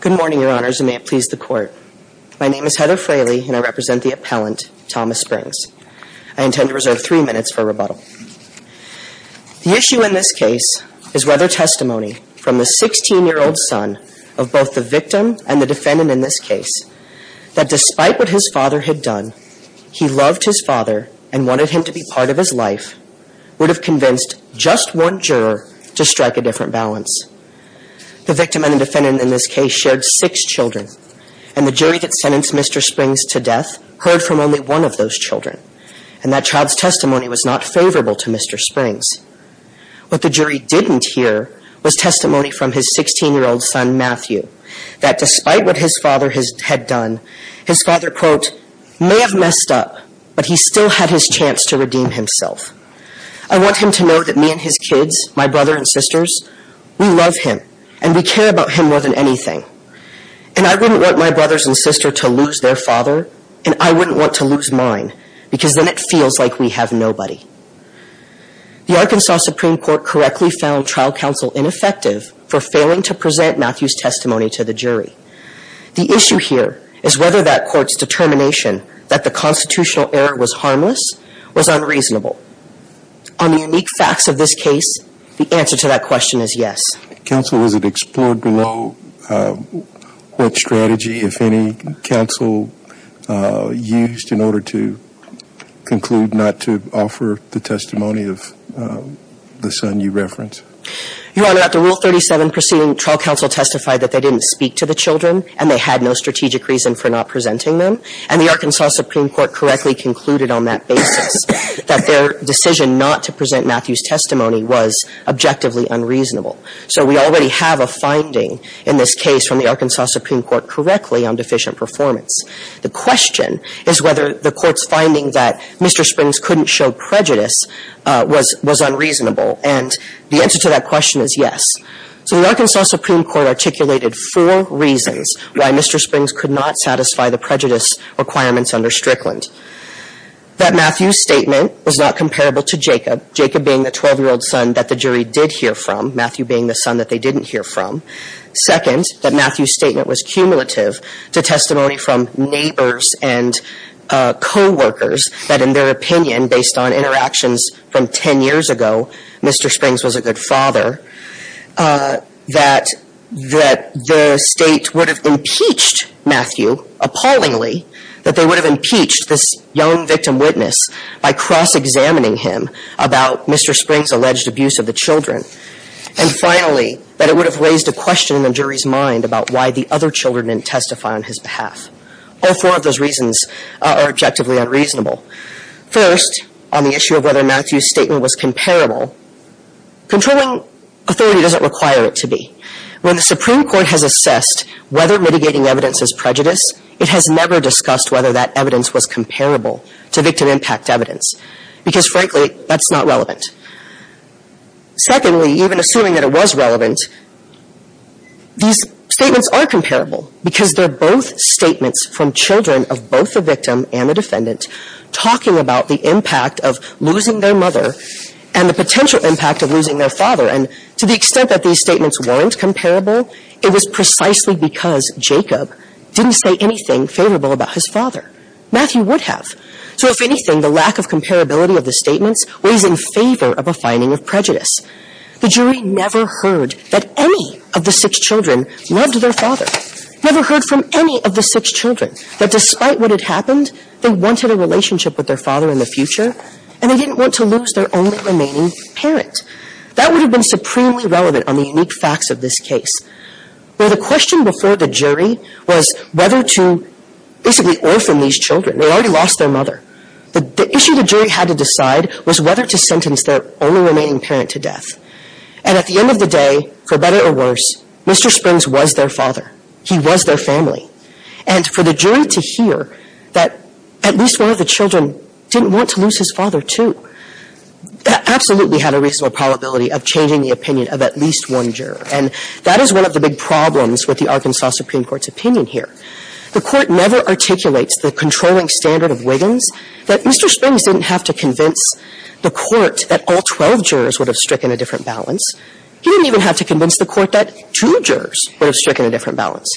Good morning, your honors, and may it please the court. My name is Heather Fraley and I represent the appellant, Thomas Springs. I intend to reserve three minutes for rebuttal. The issue in this case is whether testimony from the 16-year-old son of both the victim and the defendant in this case, that despite what his father had done, he loved his father and wanted him to be part of his life, would have convinced just one juror to strike a different balance. The victim and the defendant in this case shared six children, and the jury that sentenced Mr. Springs to death heard from only one of those children, and that child's testimony was not favorable to Mr. Springs. What the jury didn't hear was testimony from his 16-year-old son, Matthew, that despite what his father had done, his father, quote, may have messed up, but he still had his chance to redeem himself. I want him to know that me and his kids, my brother and sisters, we love him and we care about him more than anything, and I wouldn't want my brothers and sister to lose their father, and I wouldn't want to lose mine, because then it feels like we have nobody. The Arkansas Supreme Court correctly found trial counsel ineffective for failing to present Matthew's testimony to the jury. The issue here is whether that court's determination that the constitutional error was harmless was unreasonable. On the unique facts of this case, the answer to that question is yes. Counsel, was it explored below what strategy, if any, counsel used in order to conclude not to offer the testimony of the son you reference? Your Honor, at the Rule 37 proceeding, trial counsel testified that they didn't speak to the children and they had no strategic reason for not presenting them, and the Arkansas Supreme Court correctly concluded on that basis that their decision not to present Matthew's testimony was objectively unreasonable. So we already have a finding in this case from the Arkansas Supreme Court correctly on deficient performance. The question is whether the court's finding that Mr. Springs couldn't show prejudice was unreasonable, and the answer to that question is yes. So the Arkansas Supreme Court articulated four reasons why Mr. Springs could not satisfy the prejudice requirements under Strickland. That Matthew's statement was not comparable to Jacob, Jacob being the 12-year-old son that the jury did hear from, Matthew being the son that they didn't hear from. Second, that Matthew's statement was cumulative to testimony from neighbors and co-workers that, in their opinion, based on interactions from 10 years ago, Mr. Springs was a good father, that the State would have impeached Matthew appallingly, that they would have impeached this young victim witness by cross-examining him about Mr. Springs' alleged abuse of the children. And finally, that it would have raised a question in the jury's mind about why the other children didn't testify on his behalf. All four of those reasons are objectively unreasonable. First, on the issue of whether Matthew's statement was comparable, controlling authority doesn't require it to be. When the Supreme Court has assessed whether mitigating evidence is prejudice, it has never discussed whether that evidence was comparable to victim impact evidence, because frankly, that's not relevant. Secondly, even assuming that it was relevant, these statements are comparable, because they're both statements from children of both the parents talking about the impact of losing their mother and the potential impact of losing their father. And to the extent that these statements weren't comparable, it was precisely because Jacob didn't say anything favorable about his father. Matthew would have. So if anything, the lack of comparability of the statements weighs in favor of a finding of prejudice. The jury never heard that any of the six children loved their father, never heard from any of the six children that despite what had happened, they wanted a relationship with their father in the future, and they didn't want to lose their only remaining parent. That would have been supremely relevant on the unique facts of this case, where the question before the jury was whether to basically orphan these children. They already lost their mother. The issue the jury had to decide was whether to sentence their only remaining parent to death. And at the end of the day, for better or worse, Mr. Springs was their father. He was their family. And for the jury to hear that at least one of the children didn't want to lose his father, too, absolutely had a reasonable probability of changing the opinion of at least one juror. And that is one of the big problems with the Arkansas Supreme Court's opinion here. The Court never articulates the controlling standard of Wiggins that Mr. Springs didn't have to convince the Court that all 12 jurors would have stricken a different balance. He didn't even have to convince the Court that two jurors would have stricken a different balance.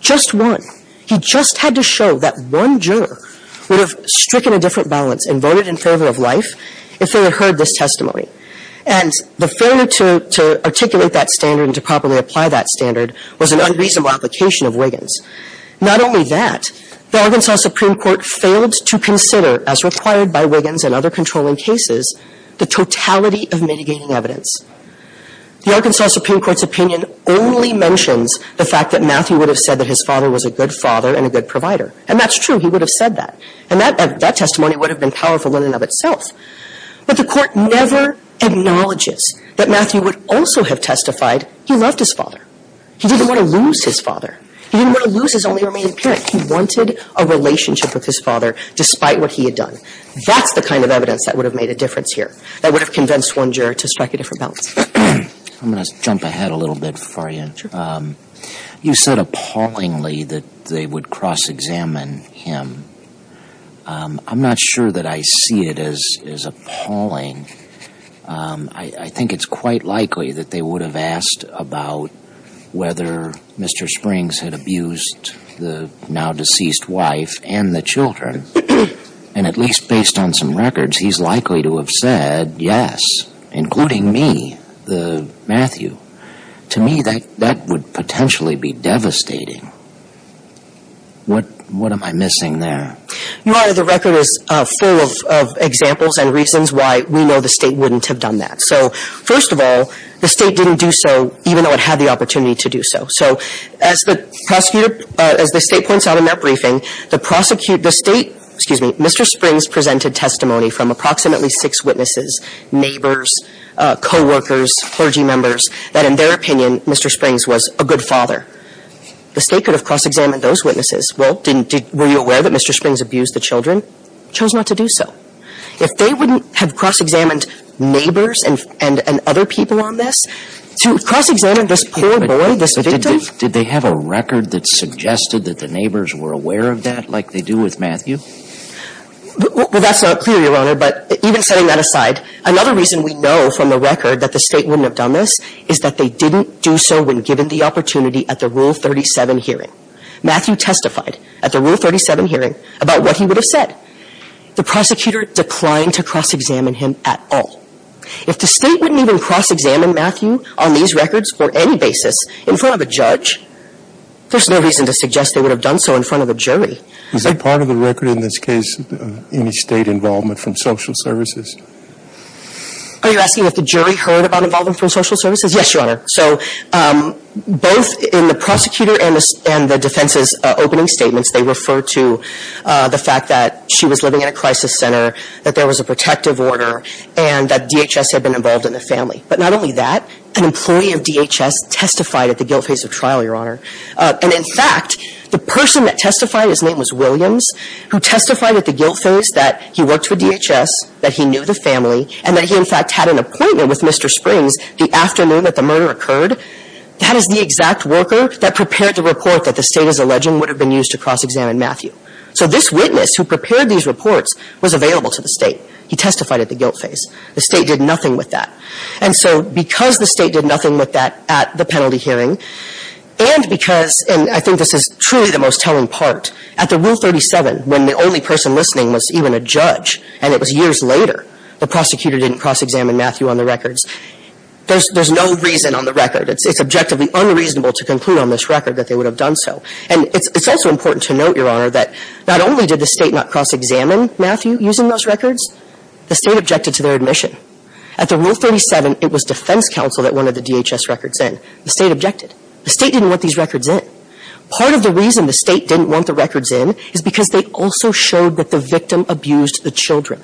Just one. He just had to show that one juror would have stricken a different balance and voted in favor of life if they had heard this testimony. And the failure to articulate that standard and to properly apply that standard was an unreasonable application of Wiggins. Not only that, the Arkansas Supreme Court failed to consider, as required by Wiggins and other controlling cases, the totality of mitigating evidence. The Arkansas Supreme Court's opinion only mentions the fact that Matthew would have said that his father was a good father and a good provider. And that's true. He would have said that. And that testimony would have been powerful in and of itself. But the Court never acknowledges that Matthew would also have testified he loved his father. He didn't want to lose his father. He didn't want to lose his only remaining parent. He wanted a relationship with his father despite what he had done. That's the kind of evidence that would have made a difference here, that would have convinced one juror to strike a different balance. I'm going to jump ahead a little bit for you. You said appallingly that they would cross-examine him. I'm not sure that I see it as appalling. I think it's quite likely that they would have asked about whether Mr. Springs had abused the now-deceased wife and the children. And at least based on some records, he's likely to have said, yes, including me, Matthew. To me, that would potentially be devastating. What am I missing there? Your Honor, the record is full of examples and reasons why we know the State wouldn't have done that. So first of all, the State didn't do so even though it had the opportunity to do so. So as the State points out in that briefing, the State, excuse me, Mr. Springs presented testimony from approximately six witnesses, neighbors, co-workers, clergy members, that in their opinion, Mr. Springs was a good father. The State could have cross-examined those witnesses. Well, were you aware that Mr. Springs abused the children? Chose not to do so. If they wouldn't have cross-examined neighbors and other people on this, to cross-examine this poor boy, this victim? But did they have a record that suggested that the neighbors were aware of that like they do with Matthew? Well, that's not clear, Your Honor, but even setting that aside, another reason we know from the record that the State wouldn't have done this is that they didn't do so when given the opportunity at the Rule 37 hearing. Matthew testified at the Rule 37 hearing about what he would have said. The prosecutor declined to cross-examine him at all. If the State wouldn't even cross-examine Matthew on these records for any basis in front of a judge, there's no reason to suggest they would have done so in front of a jury. Is that part of the record in this case, any State involvement from social services? Are you asking if the jury heard about involvement from social services? Yes, Your Honor. So both in the prosecutor and the defense's opening statements, they refer to the fact that she was living in a crisis center, that there was a protective order, and that DHS had been involved in the family. But not only that, an employee of DHS testified at the guilt phase of trial, Your Honor. And in fact, the person that testified, his name was Williams, who testified at the guilt phase that he worked for DHS, that he knew the family, and that he, in fact, had an appointment with Mr. Springs the afternoon that the murder occurred, that is the exact worker that prepared the report that the State, as alleged, would have been used to cross-examine Matthew. So this witness who prepared these reports was available to the State. He testified at the guilt phase. The State did nothing with that. And so because the State did nothing with that at the penalty hearing, and because, and I think this is truly the most telling part, at the Rule 37, when the only person listening was even a judge, and it was years later, the prosecutor didn't cross-examine Matthew on the records, there's no reason on the record, it's objectively unreasonable to conclude on this record that they would have done so. And it's also important to note, Your Honor, that not only did the State not cross-examine Matthew using those records, the State objected to their admission. At the Rule 37, it was defense counsel that wanted the DHS records in. The State objected. The State didn't want these records in. Part of the reason the State didn't want the records in is because they also showed that the victim abused the children.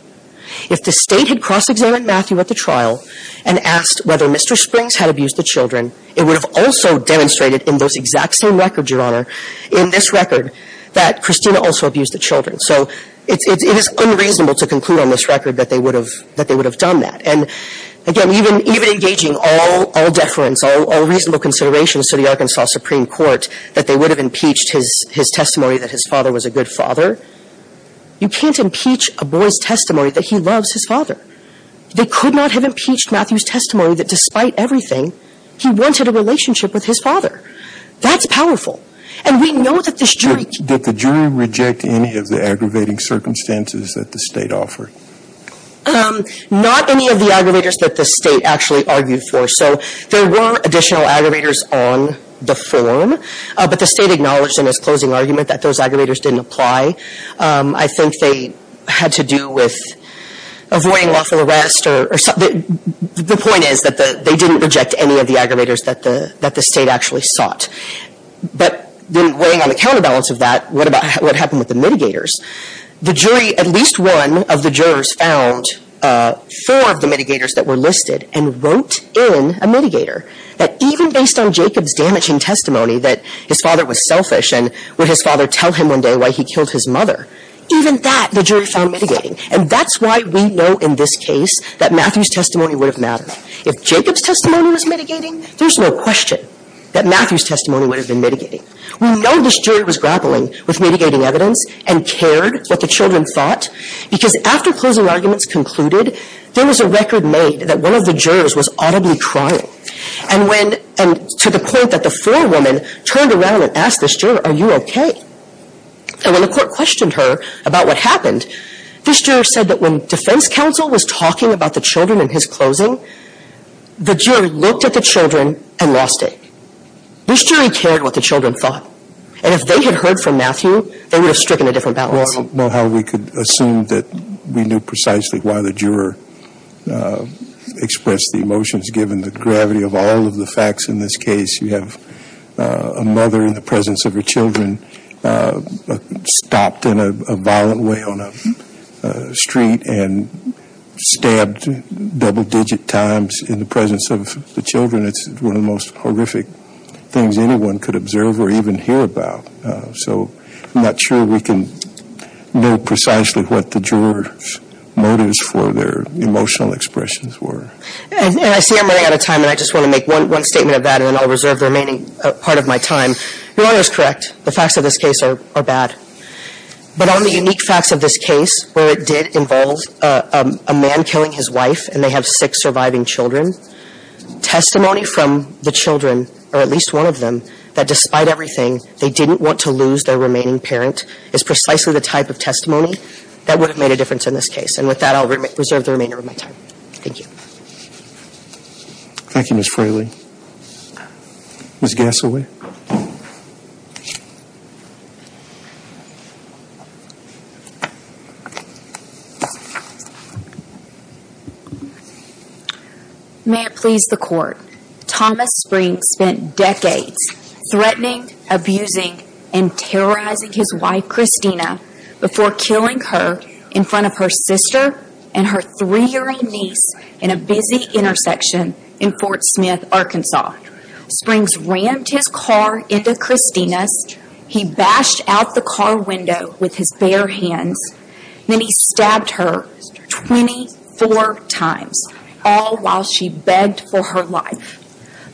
If the State had cross-examined Matthew at the trial and asked whether Mr. Springs had abused the children, it would have also demonstrated in those exact same records, Your Honor, in this record, that Christina also abused the children. So it's, it is unreasonable to conclude on this record that they would have, that they would have done that. And again, even, even gauging all, all deference, all, all reasonable considerations to the Arkansas Supreme Court, that they would have impeached his, his testimony that his father was a good father, you can't impeach a boy's testimony that he loves his father. They could not have impeached Matthew's testimony that despite everything, he wanted a relationship with his father. That's powerful. And we know that this jury can't. Did the jury reject any of the aggravating circumstances that the State offered? Um, not any of the aggravators that the State actually argued for. So there were additional aggravators on the form, but the State acknowledged in its closing argument that those aggravators didn't apply. Um, I think they had to do with avoiding lawful arrest or, or something. The point is that the, they didn't reject any of the aggravators that the, that the State actually sought. But then weighing on the counterbalance of that, what about, what happened with the mitigators? The jury, at least one of the jurors found, uh, four of the mitigators that were listed and wrote in a mitigator that even based on Jacob's damaging testimony that his father was selfish and would his father tell him one day why he killed his mother, even that the jury found mitigating. And that's why we know in this case that Matthew's testimony would have mattered. If Jacob's testimony was mitigating, there's no question that Matthew's testimony would have been mitigating. We know this jury was grappling with mitigating evidence and cared what the children thought because after closing arguments concluded, there was a record made that one of the jurors was audibly crying. And when, and to the point that the forewoman turned around and asked this juror, are you okay? And when the court questioned her about what happened, this juror said that when defense counsel was talking about the children in his closing, the juror looked at the children and lost it. This jury cared what the children thought. And if they had heard from Matthew, they would have stricken a different balance. Well, how we could assume that we knew precisely why the juror, uh, expressed the emotions given the gravity of all of the facts in this case. You have a mother in the presence of her children, uh, stopped in a violent way on a street and stabbed double digit times in the presence of the children. It's one of the most horrific things anyone could observe or even hear about. Uh, so I'm not sure we can know precisely what the jurors motives for their emotional expressions were. And I see I'm running out of time and I just want to make one, one statement of that and then I'll reserve the remaining part of my time. Your Honor is correct. The facts of this case are bad. But on the unique facts of this case where it did involve a man killing his wife and they have six surviving children, testimony from the children, or at least one of them, that despite everything, they didn't want to lose their remaining parent is precisely the type of testimony that would have made a difference in this case. And with that, I'll reserve the remainder of my time. Thank you. Thank you, Ms. Fraley. Ms. Gassaway. May it please the court, Thomas Springs spent decades threatening, abusing, and terrorizing his wife, Christina, before killing her in front of her sister and her three year old niece in a busy intersection in Fort Smith, Arkansas. Springs rammed his car into Christina's. He bashed out the car window with his bare hands. Then he stabbed her 24 times, all while she begged for her life.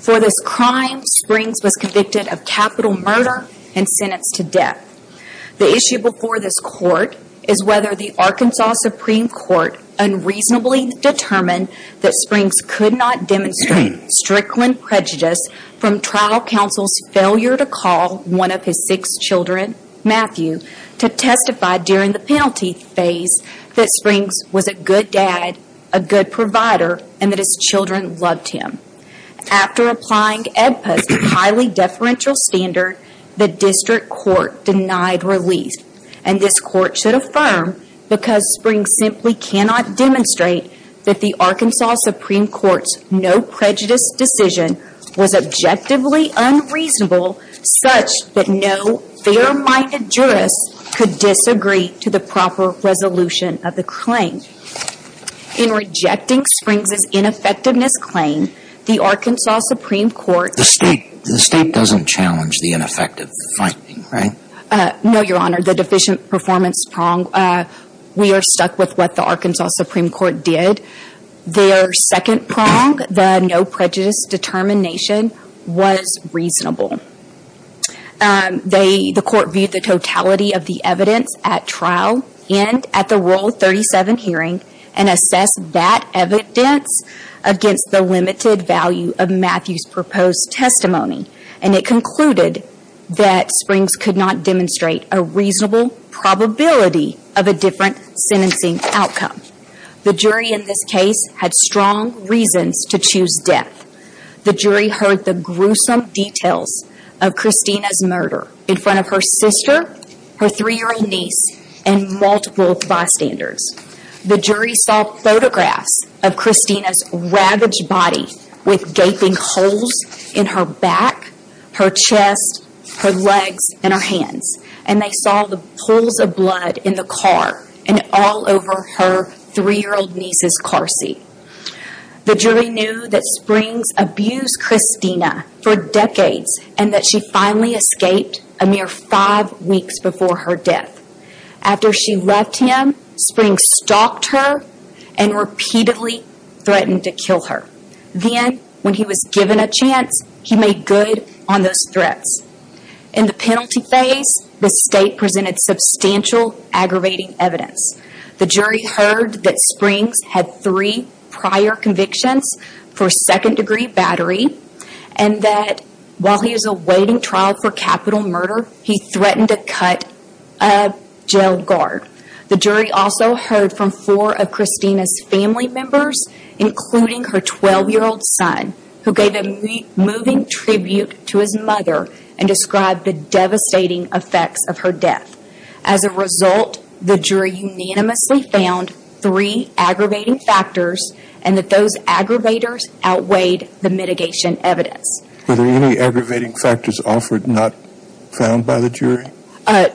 For this crime, Springs was convicted of capital murder and sentenced to death. The issue before this court is whether the Arkansas Supreme Court unreasonably determined that Springs could not demonstrate strickland prejudice from trial counsel's failure to call one of his six children, Matthew, to testify during the penalty phase that Springs was a good dad, a good provider, and that his children loved him. After applying EDPA's highly deferential standard, the district court denied relief. And this court should note that the Arkansas Supreme Court's no prejudice decision was objectively unreasonable such that no fair-minded jurist could disagree to the proper resolution of the claim. In rejecting Springs' ineffectiveness claim, the Arkansas Supreme Court... The state doesn't challenge the ineffective finding, right? No, your honor. The deficient performance prong, we are stuck with what the Arkansas Supreme Court did. Their second prong, the no prejudice determination, was reasonable. The court viewed the totality of the evidence at trial and at the Rule 37 hearing and assessed that evidence against the limited value of Matthew's proposed testimony. And it concluded that Springs could not demonstrate a reasonable probability of a different sentencing outcome. The jury in this case had strong reasons to choose death. The jury heard the gruesome details of Christina's murder in front of her sister, her three-year-old niece, and multiple bystanders. The jury saw photographs of Christina's ravaged body with gaping holes in her back, her chest, her legs, and her hands. And they saw the pools of blood in the car and all over her three-year-old niece's car seat. The jury knew that Springs abused Christina for decades and that she finally escaped a mere five weeks before her death. After she left him, Springs stalked her and repeatedly threatened to kill her. Then, when he was given a chance, he made good on those threats. In the penalty phase, the state presented substantial aggravating evidence. The jury heard that Springs had three prior convictions for second-degree battery and that while he is awaiting trial for capital murder, he threatened to cut a jail guard. The jury also heard from four of Christina's family members, including her 12-year-old son, who gave a moving tribute to his mother and described the devastating effects of her death. As a result, the jury unanimously found three aggravating factors and that those aggravators outweighed the mitigation evidence. Were there any aggravating factors offered not found by the jury?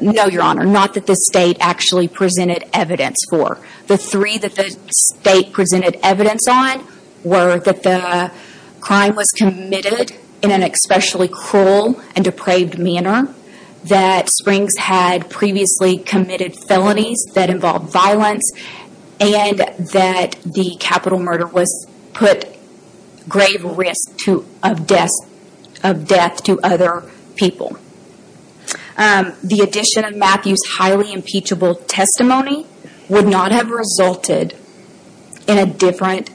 No, Your Honor. Not that the state actually presented evidence for. The three that the state presented evidence on were that the crime was committed in an especially cruel and depraved manner, that Springs had previously committed felonies that involved violence, and that the capital murder put grave risk of death to other people. The addition of Matthew's highly impeachable testimony would not have resulted in a different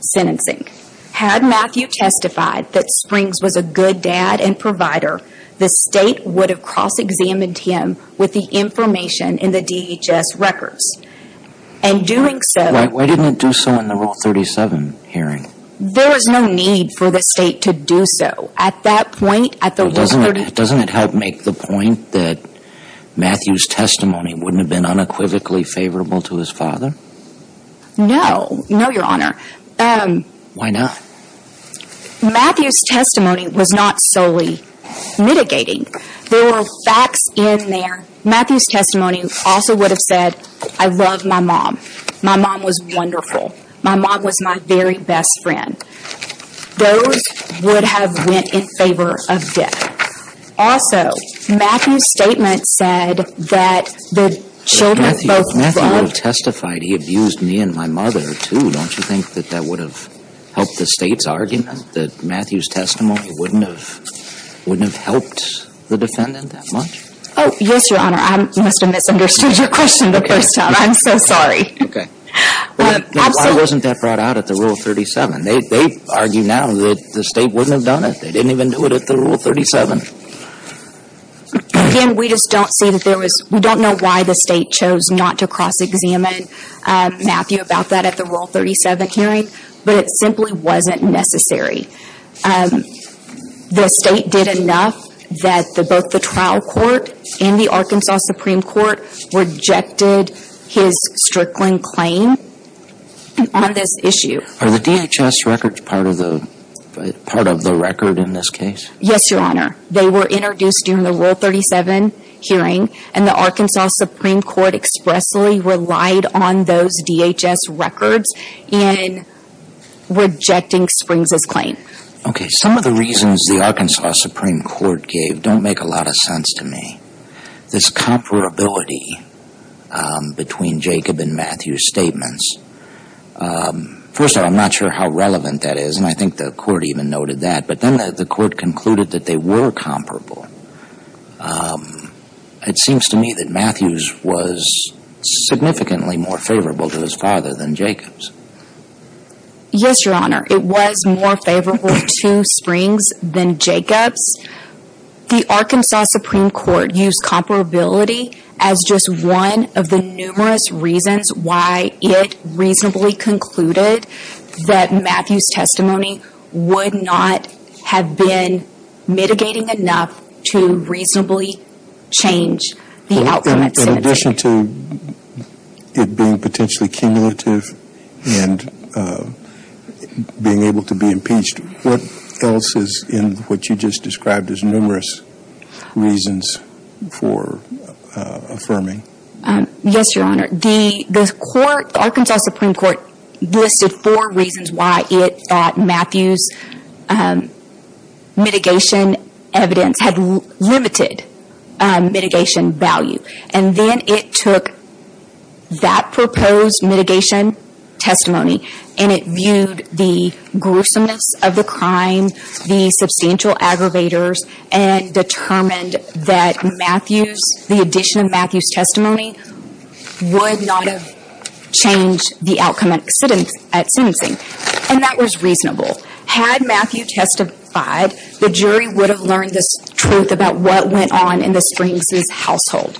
sentencing. Had Matthew testified that Springs was a good dad and provider, the state would have cross-examined him with the information in the DHS records. And doing so... Why didn't it do so in the Rule 37 hearing? There was no need for the state to do so. At that point, at the Rule 37... Doesn't it help make the point that Matthew's testimony wouldn't have been unequivocally favorable to his father? No. No, Your Honor. Why not? Matthew's testimony was not solely mitigating. There were facts in there. Matthew's testimony also would have said, I love my mom. My mom was wonderful. My mom was my very best friend. Those would have went in favor of death. Also, Matthew's statement said that the children both loved... Matthew would have testified, he abused me and my mother, too. Don't you think that would have helped the state's argument that Matthew's testimony wouldn't have helped the defendant that much? Oh, yes, Your Honor. I must have misunderstood your question the first time. I'm so sorry. Okay. Why wasn't that brought out at the Rule 37? They argue now that the state wouldn't have done it. They didn't even do it at the Rule 37. Again, we just don't see that there was... We don't know why the state chose not to cross-examine Matthew about that at the Rule 37 hearing, but it simply wasn't necessary. The state did enough that both the trial court and the Arkansas Supreme Court rejected his Strickland claim on this issue. Are the DHS records part of the record in this case? Yes, Your Honor. They were introduced during the Rule 37 hearing, and the Arkansas Supreme Court expressly relied on those DHS records in rejecting Springs' claim. Okay. Some of the reasons the Arkansas Supreme Court gave don't make a lot of sense to me. This comparability between Jacob and Matthew's statements. First of all, I'm not sure how relevant that is, and I think the court even noted that, but then the court concluded that they were comparable. It seems to me that Matthew's was significantly more favorable to his father than Jacob's. Yes, Your Honor. It was more favorable to Springs than Jacob's. The Arkansas Supreme Court used comparability as just one of the numerous reasons why it reasonably concluded that Matthew's testimony would not have been mitigating enough to reasonably change the outcome at sympathy. In addition to it being potentially cumulative and being able to be impeached, what else is in what you just described as numerous reasons for affirming? Yes, Your Honor. The court, the Arkansas Supreme Court, listed four reasons why it thought Matthew's mitigation evidence had limited mitigation value, and then it took that proposed mitigation testimony, and it viewed the gruesomeness of the crime, the substantial aggravators, and determined that Matthew's, the addition of Matthew's testimony, would not have changed the outcome at sentencing, and that was reasonable. Had Matthew testified, the jury would have learned this truth about what went on in the Springs' household,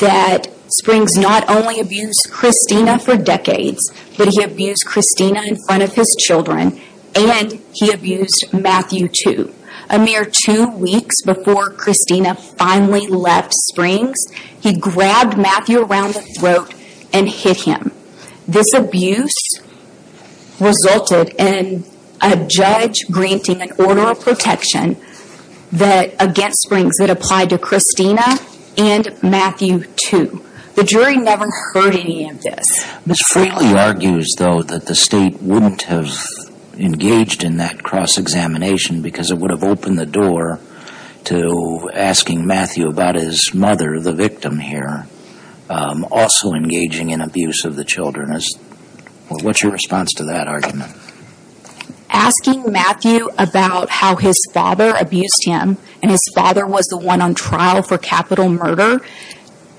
that Springs not only abused Christina for decades, but he abused Christina in front of his children, and he abused Matthew too. A mere two weeks before Christina finally left Springs, he grabbed Matthew around the throat and hit him. This abuse resulted in a judge granting an order of protection against Springs that applied to Christina and Matthew too. The jury never heard any of this. Ms. Freely argues, though, that the State wouldn't have engaged in that cross-examination because it would have opened the door to asking Matthew about his mother, the victim here, also engaging in abuse of the children. What's your response to that argument? Asking Matthew about how his father abused him, and his father was the one on trial for capital murder,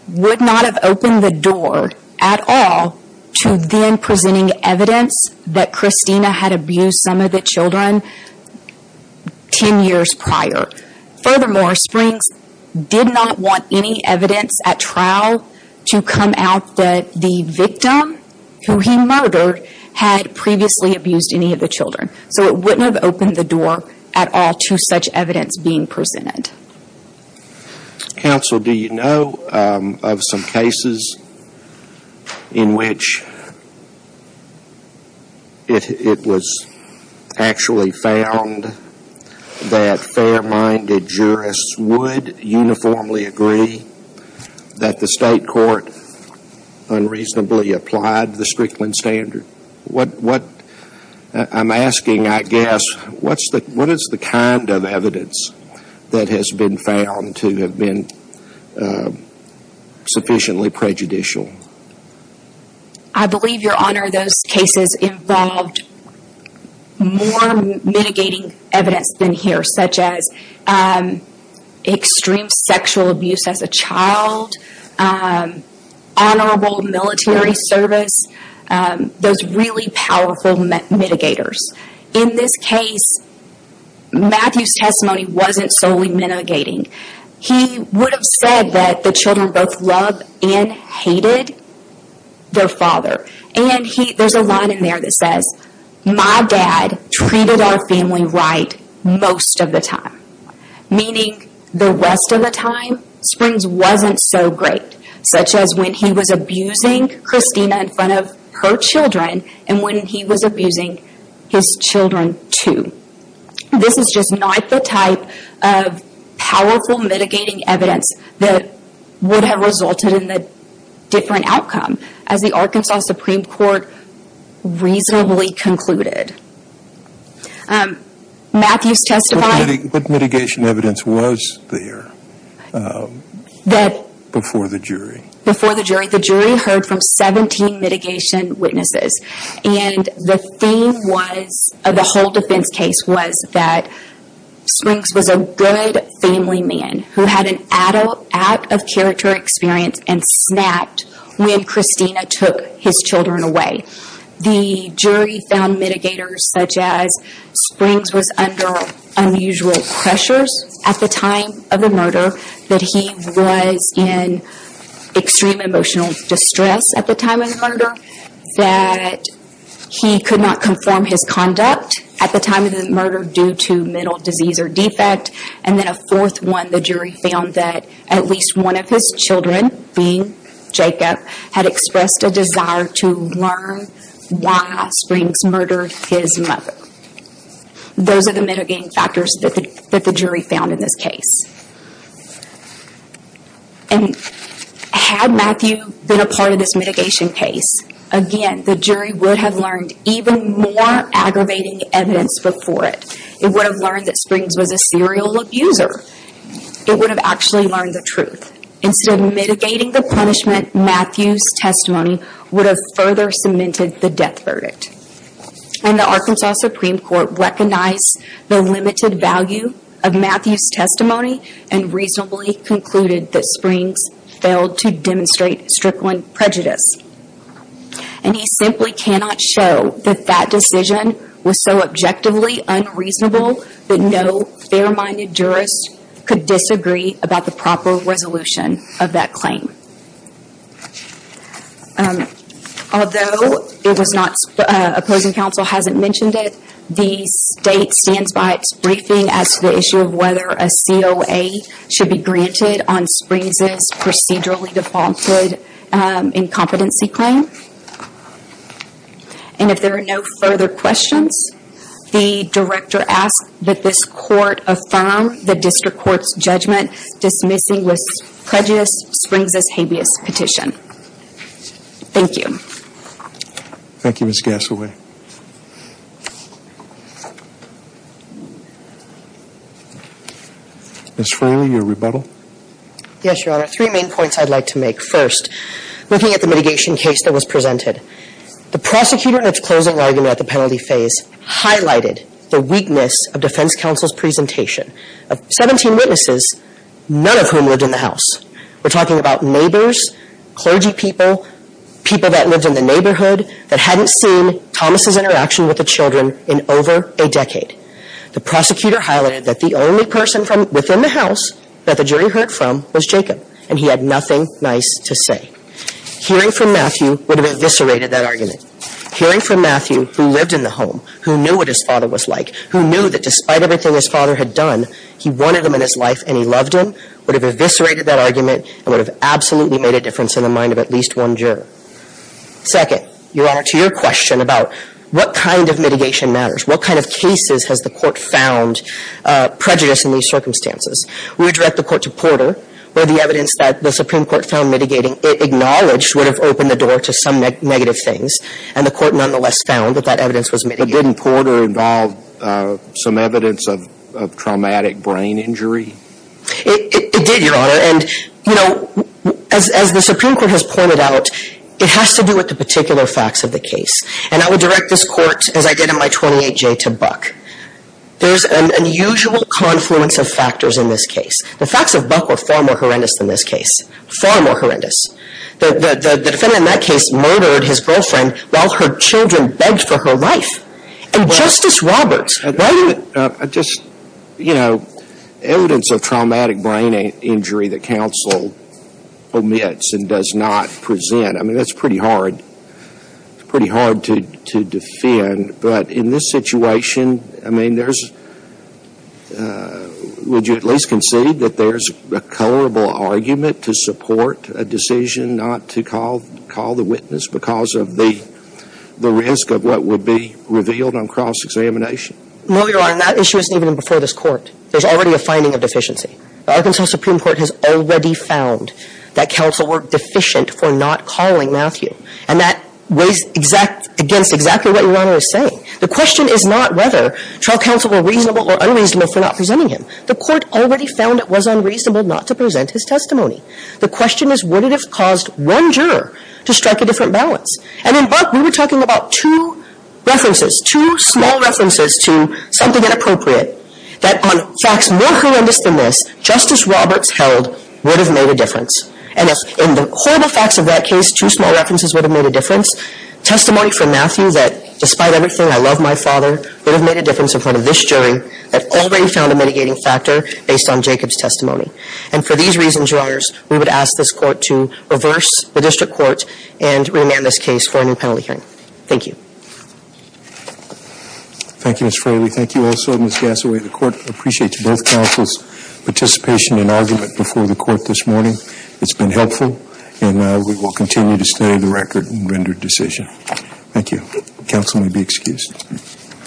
would not have opened the door at all to then presenting evidence that Christina had abused some of the children 10 years prior. Furthermore, Springs did not want any evidence at trial to come out that the victim, who he murdered, had previously abused any of the children. It wouldn't have opened the door at all to such evidence being presented. Counsel, do you know of some cases in which it was actually found that fair-minded jurists would uniformly agree that the State court unreasonably applied the Strickland standard? I'm asking, I guess, what is the kind of evidence that has been found to have been sufficiently prejudicial? I believe, Your Honor, those cases involved more mitigating evidence than here, such as really powerful mitigators. In this case, Matthew's testimony wasn't solely mitigating. He would have said that the children both loved and hated their father. There's a line in there that says, my dad treated our family right most of the time. Meaning, the rest of the time, Springs wasn't so great, such as when he was abusing Christina in front of her children and when he was abusing his children, too. This is just not the type of powerful mitigating evidence that would have resulted in a different outcome, as the Arkansas Supreme Court reasonably concluded. Matthew's testimony... Before the jury. Before the jury. The jury heard from 17 mitigation witnesses. And the theme was, of the whole defense case, was that Springs was a good family man, who had an out-of-character experience and snapped when Christina took his children away. The jury found mitigators, such as Springs was under unusual pressures at the time of the murder that he was in extreme emotional distress at the time of the murder. That he could not conform his conduct at the time of the murder due to mental disease or defect. And then a fourth one, the jury found that at least one of his children, being Jacob, had expressed a desire to learn why Springs murdered his mother. Those are the mitigating factors that the jury found in this case. Had Matthew been a part of this mitigation case, again, the jury would have learned even more aggravating evidence before it. It would have learned that Springs was a serial abuser. It would have actually learned the truth. Instead of mitigating the punishment, Matthew's testimony would have further cemented the death verdict. And the Arkansas Supreme Court recognized the limited value of Matthew's testimony and reasonably concluded that Springs failed to demonstrate strickling prejudice. And he simply cannot show that that decision was so objectively unreasonable that no fair-minded jurist could disagree about the proper resolution of that claim. Although opposing counsel hasn't mentioned it, the state stands by its briefing as to the issue of whether a COA should be granted on Springs' procedurally defaulted incompetency claim. And if there are no further questions, the director asks that this court affirm the district court's judgment dismissing this prejudice Springs' habeas petition. Thank you. Thank you, Ms. Gassaway. Ms. Fraley, your rebuttal? Yes, Your Honor. Three main points I'd like to make. First, looking at the mitigation case that was presented, the prosecutor in its closing argument at the penalty phase highlighted the weakness of defense counsel's presentation of 17 witnesses, none of whom lived in the house. We're talking about neighbors, clergy people, people that lived in the neighborhood that hadn't seen Thomas' interaction with the children in over a decade. The prosecutor highlighted that the only person within the house that the jury heard from was Jacob, and he had nothing nice to say. Hearing from Matthew would have eviscerated that argument. Hearing from Matthew, who lived in the home, who knew what his father was like, who knew that despite everything his father had done, he wanted him in his life and he loved him, would have eviscerated that argument and would have absolutely made a difference in the mind of at least one juror. Second, Your Honor, to your question about what kind of mitigation matters, what kind of cases has the court found prejudice in these circumstances, we would direct the court to Porter, where the evidence that the Supreme Court found mitigating, acknowledged would have opened the door to some negative things, and the court nonetheless found that that evidence was mitigating. But didn't Porter involve some evidence of traumatic brain injury? It did, Your Honor, and, you know, as the Supreme Court has pointed out, it has to do with the particular facts of the case. And I would direct this court, as I did in my 28-J, to Buck. There's an unusual confluence of factors in this case. The facts of Buck were far more horrendous than this case, far more horrendous. The defendant in that case murdered his girlfriend while her children begged for her life. And Justice Roberts, why didn't you? Just, you know, evidence of traumatic brain injury that counsel omits and does not present, I mean, that's pretty hard, pretty hard to defend. But in this situation, I mean, would you at least concede that there's a colorable argument to support a decision not to call the witness because of the risk of what would be revealed on cross-examination? No, Your Honor, and that issue isn't even before this Court. There's already a finding of deficiency. The Arkansas Supreme Court has already found that counsel were deficient for not calling Matthew. And that weighs against exactly what Your Honor is saying. The question is not whether trial counsel were reasonable or unreasonable for not presenting him. The Court already found it was unreasonable not to present his testimony. The question is, would it have caused one juror to strike a different balance? And in Buck, we were talking about two references, two small references to something inappropriate, that on facts more horrendous than this, Justice Roberts held would have made a difference. And in the horrible facts of that case, two small references would have made a difference. Testimony from Matthew that, despite everything, I love my father, would have made a difference in front of this jury, had already found a mitigating factor based on Jacob's testimony. And for these reasons, Your Honors, we would ask this Court to reverse the district court and remand this case for a new penalty hearing. Thank you. Thank you, Ms. Fraley. Thank you also, Ms. Gassaway. The Court appreciates both counsel's participation and argument before the Court this morning. It's been helpful, and we will continue to stay the record and render decision. Thank you. Counsel may be excused.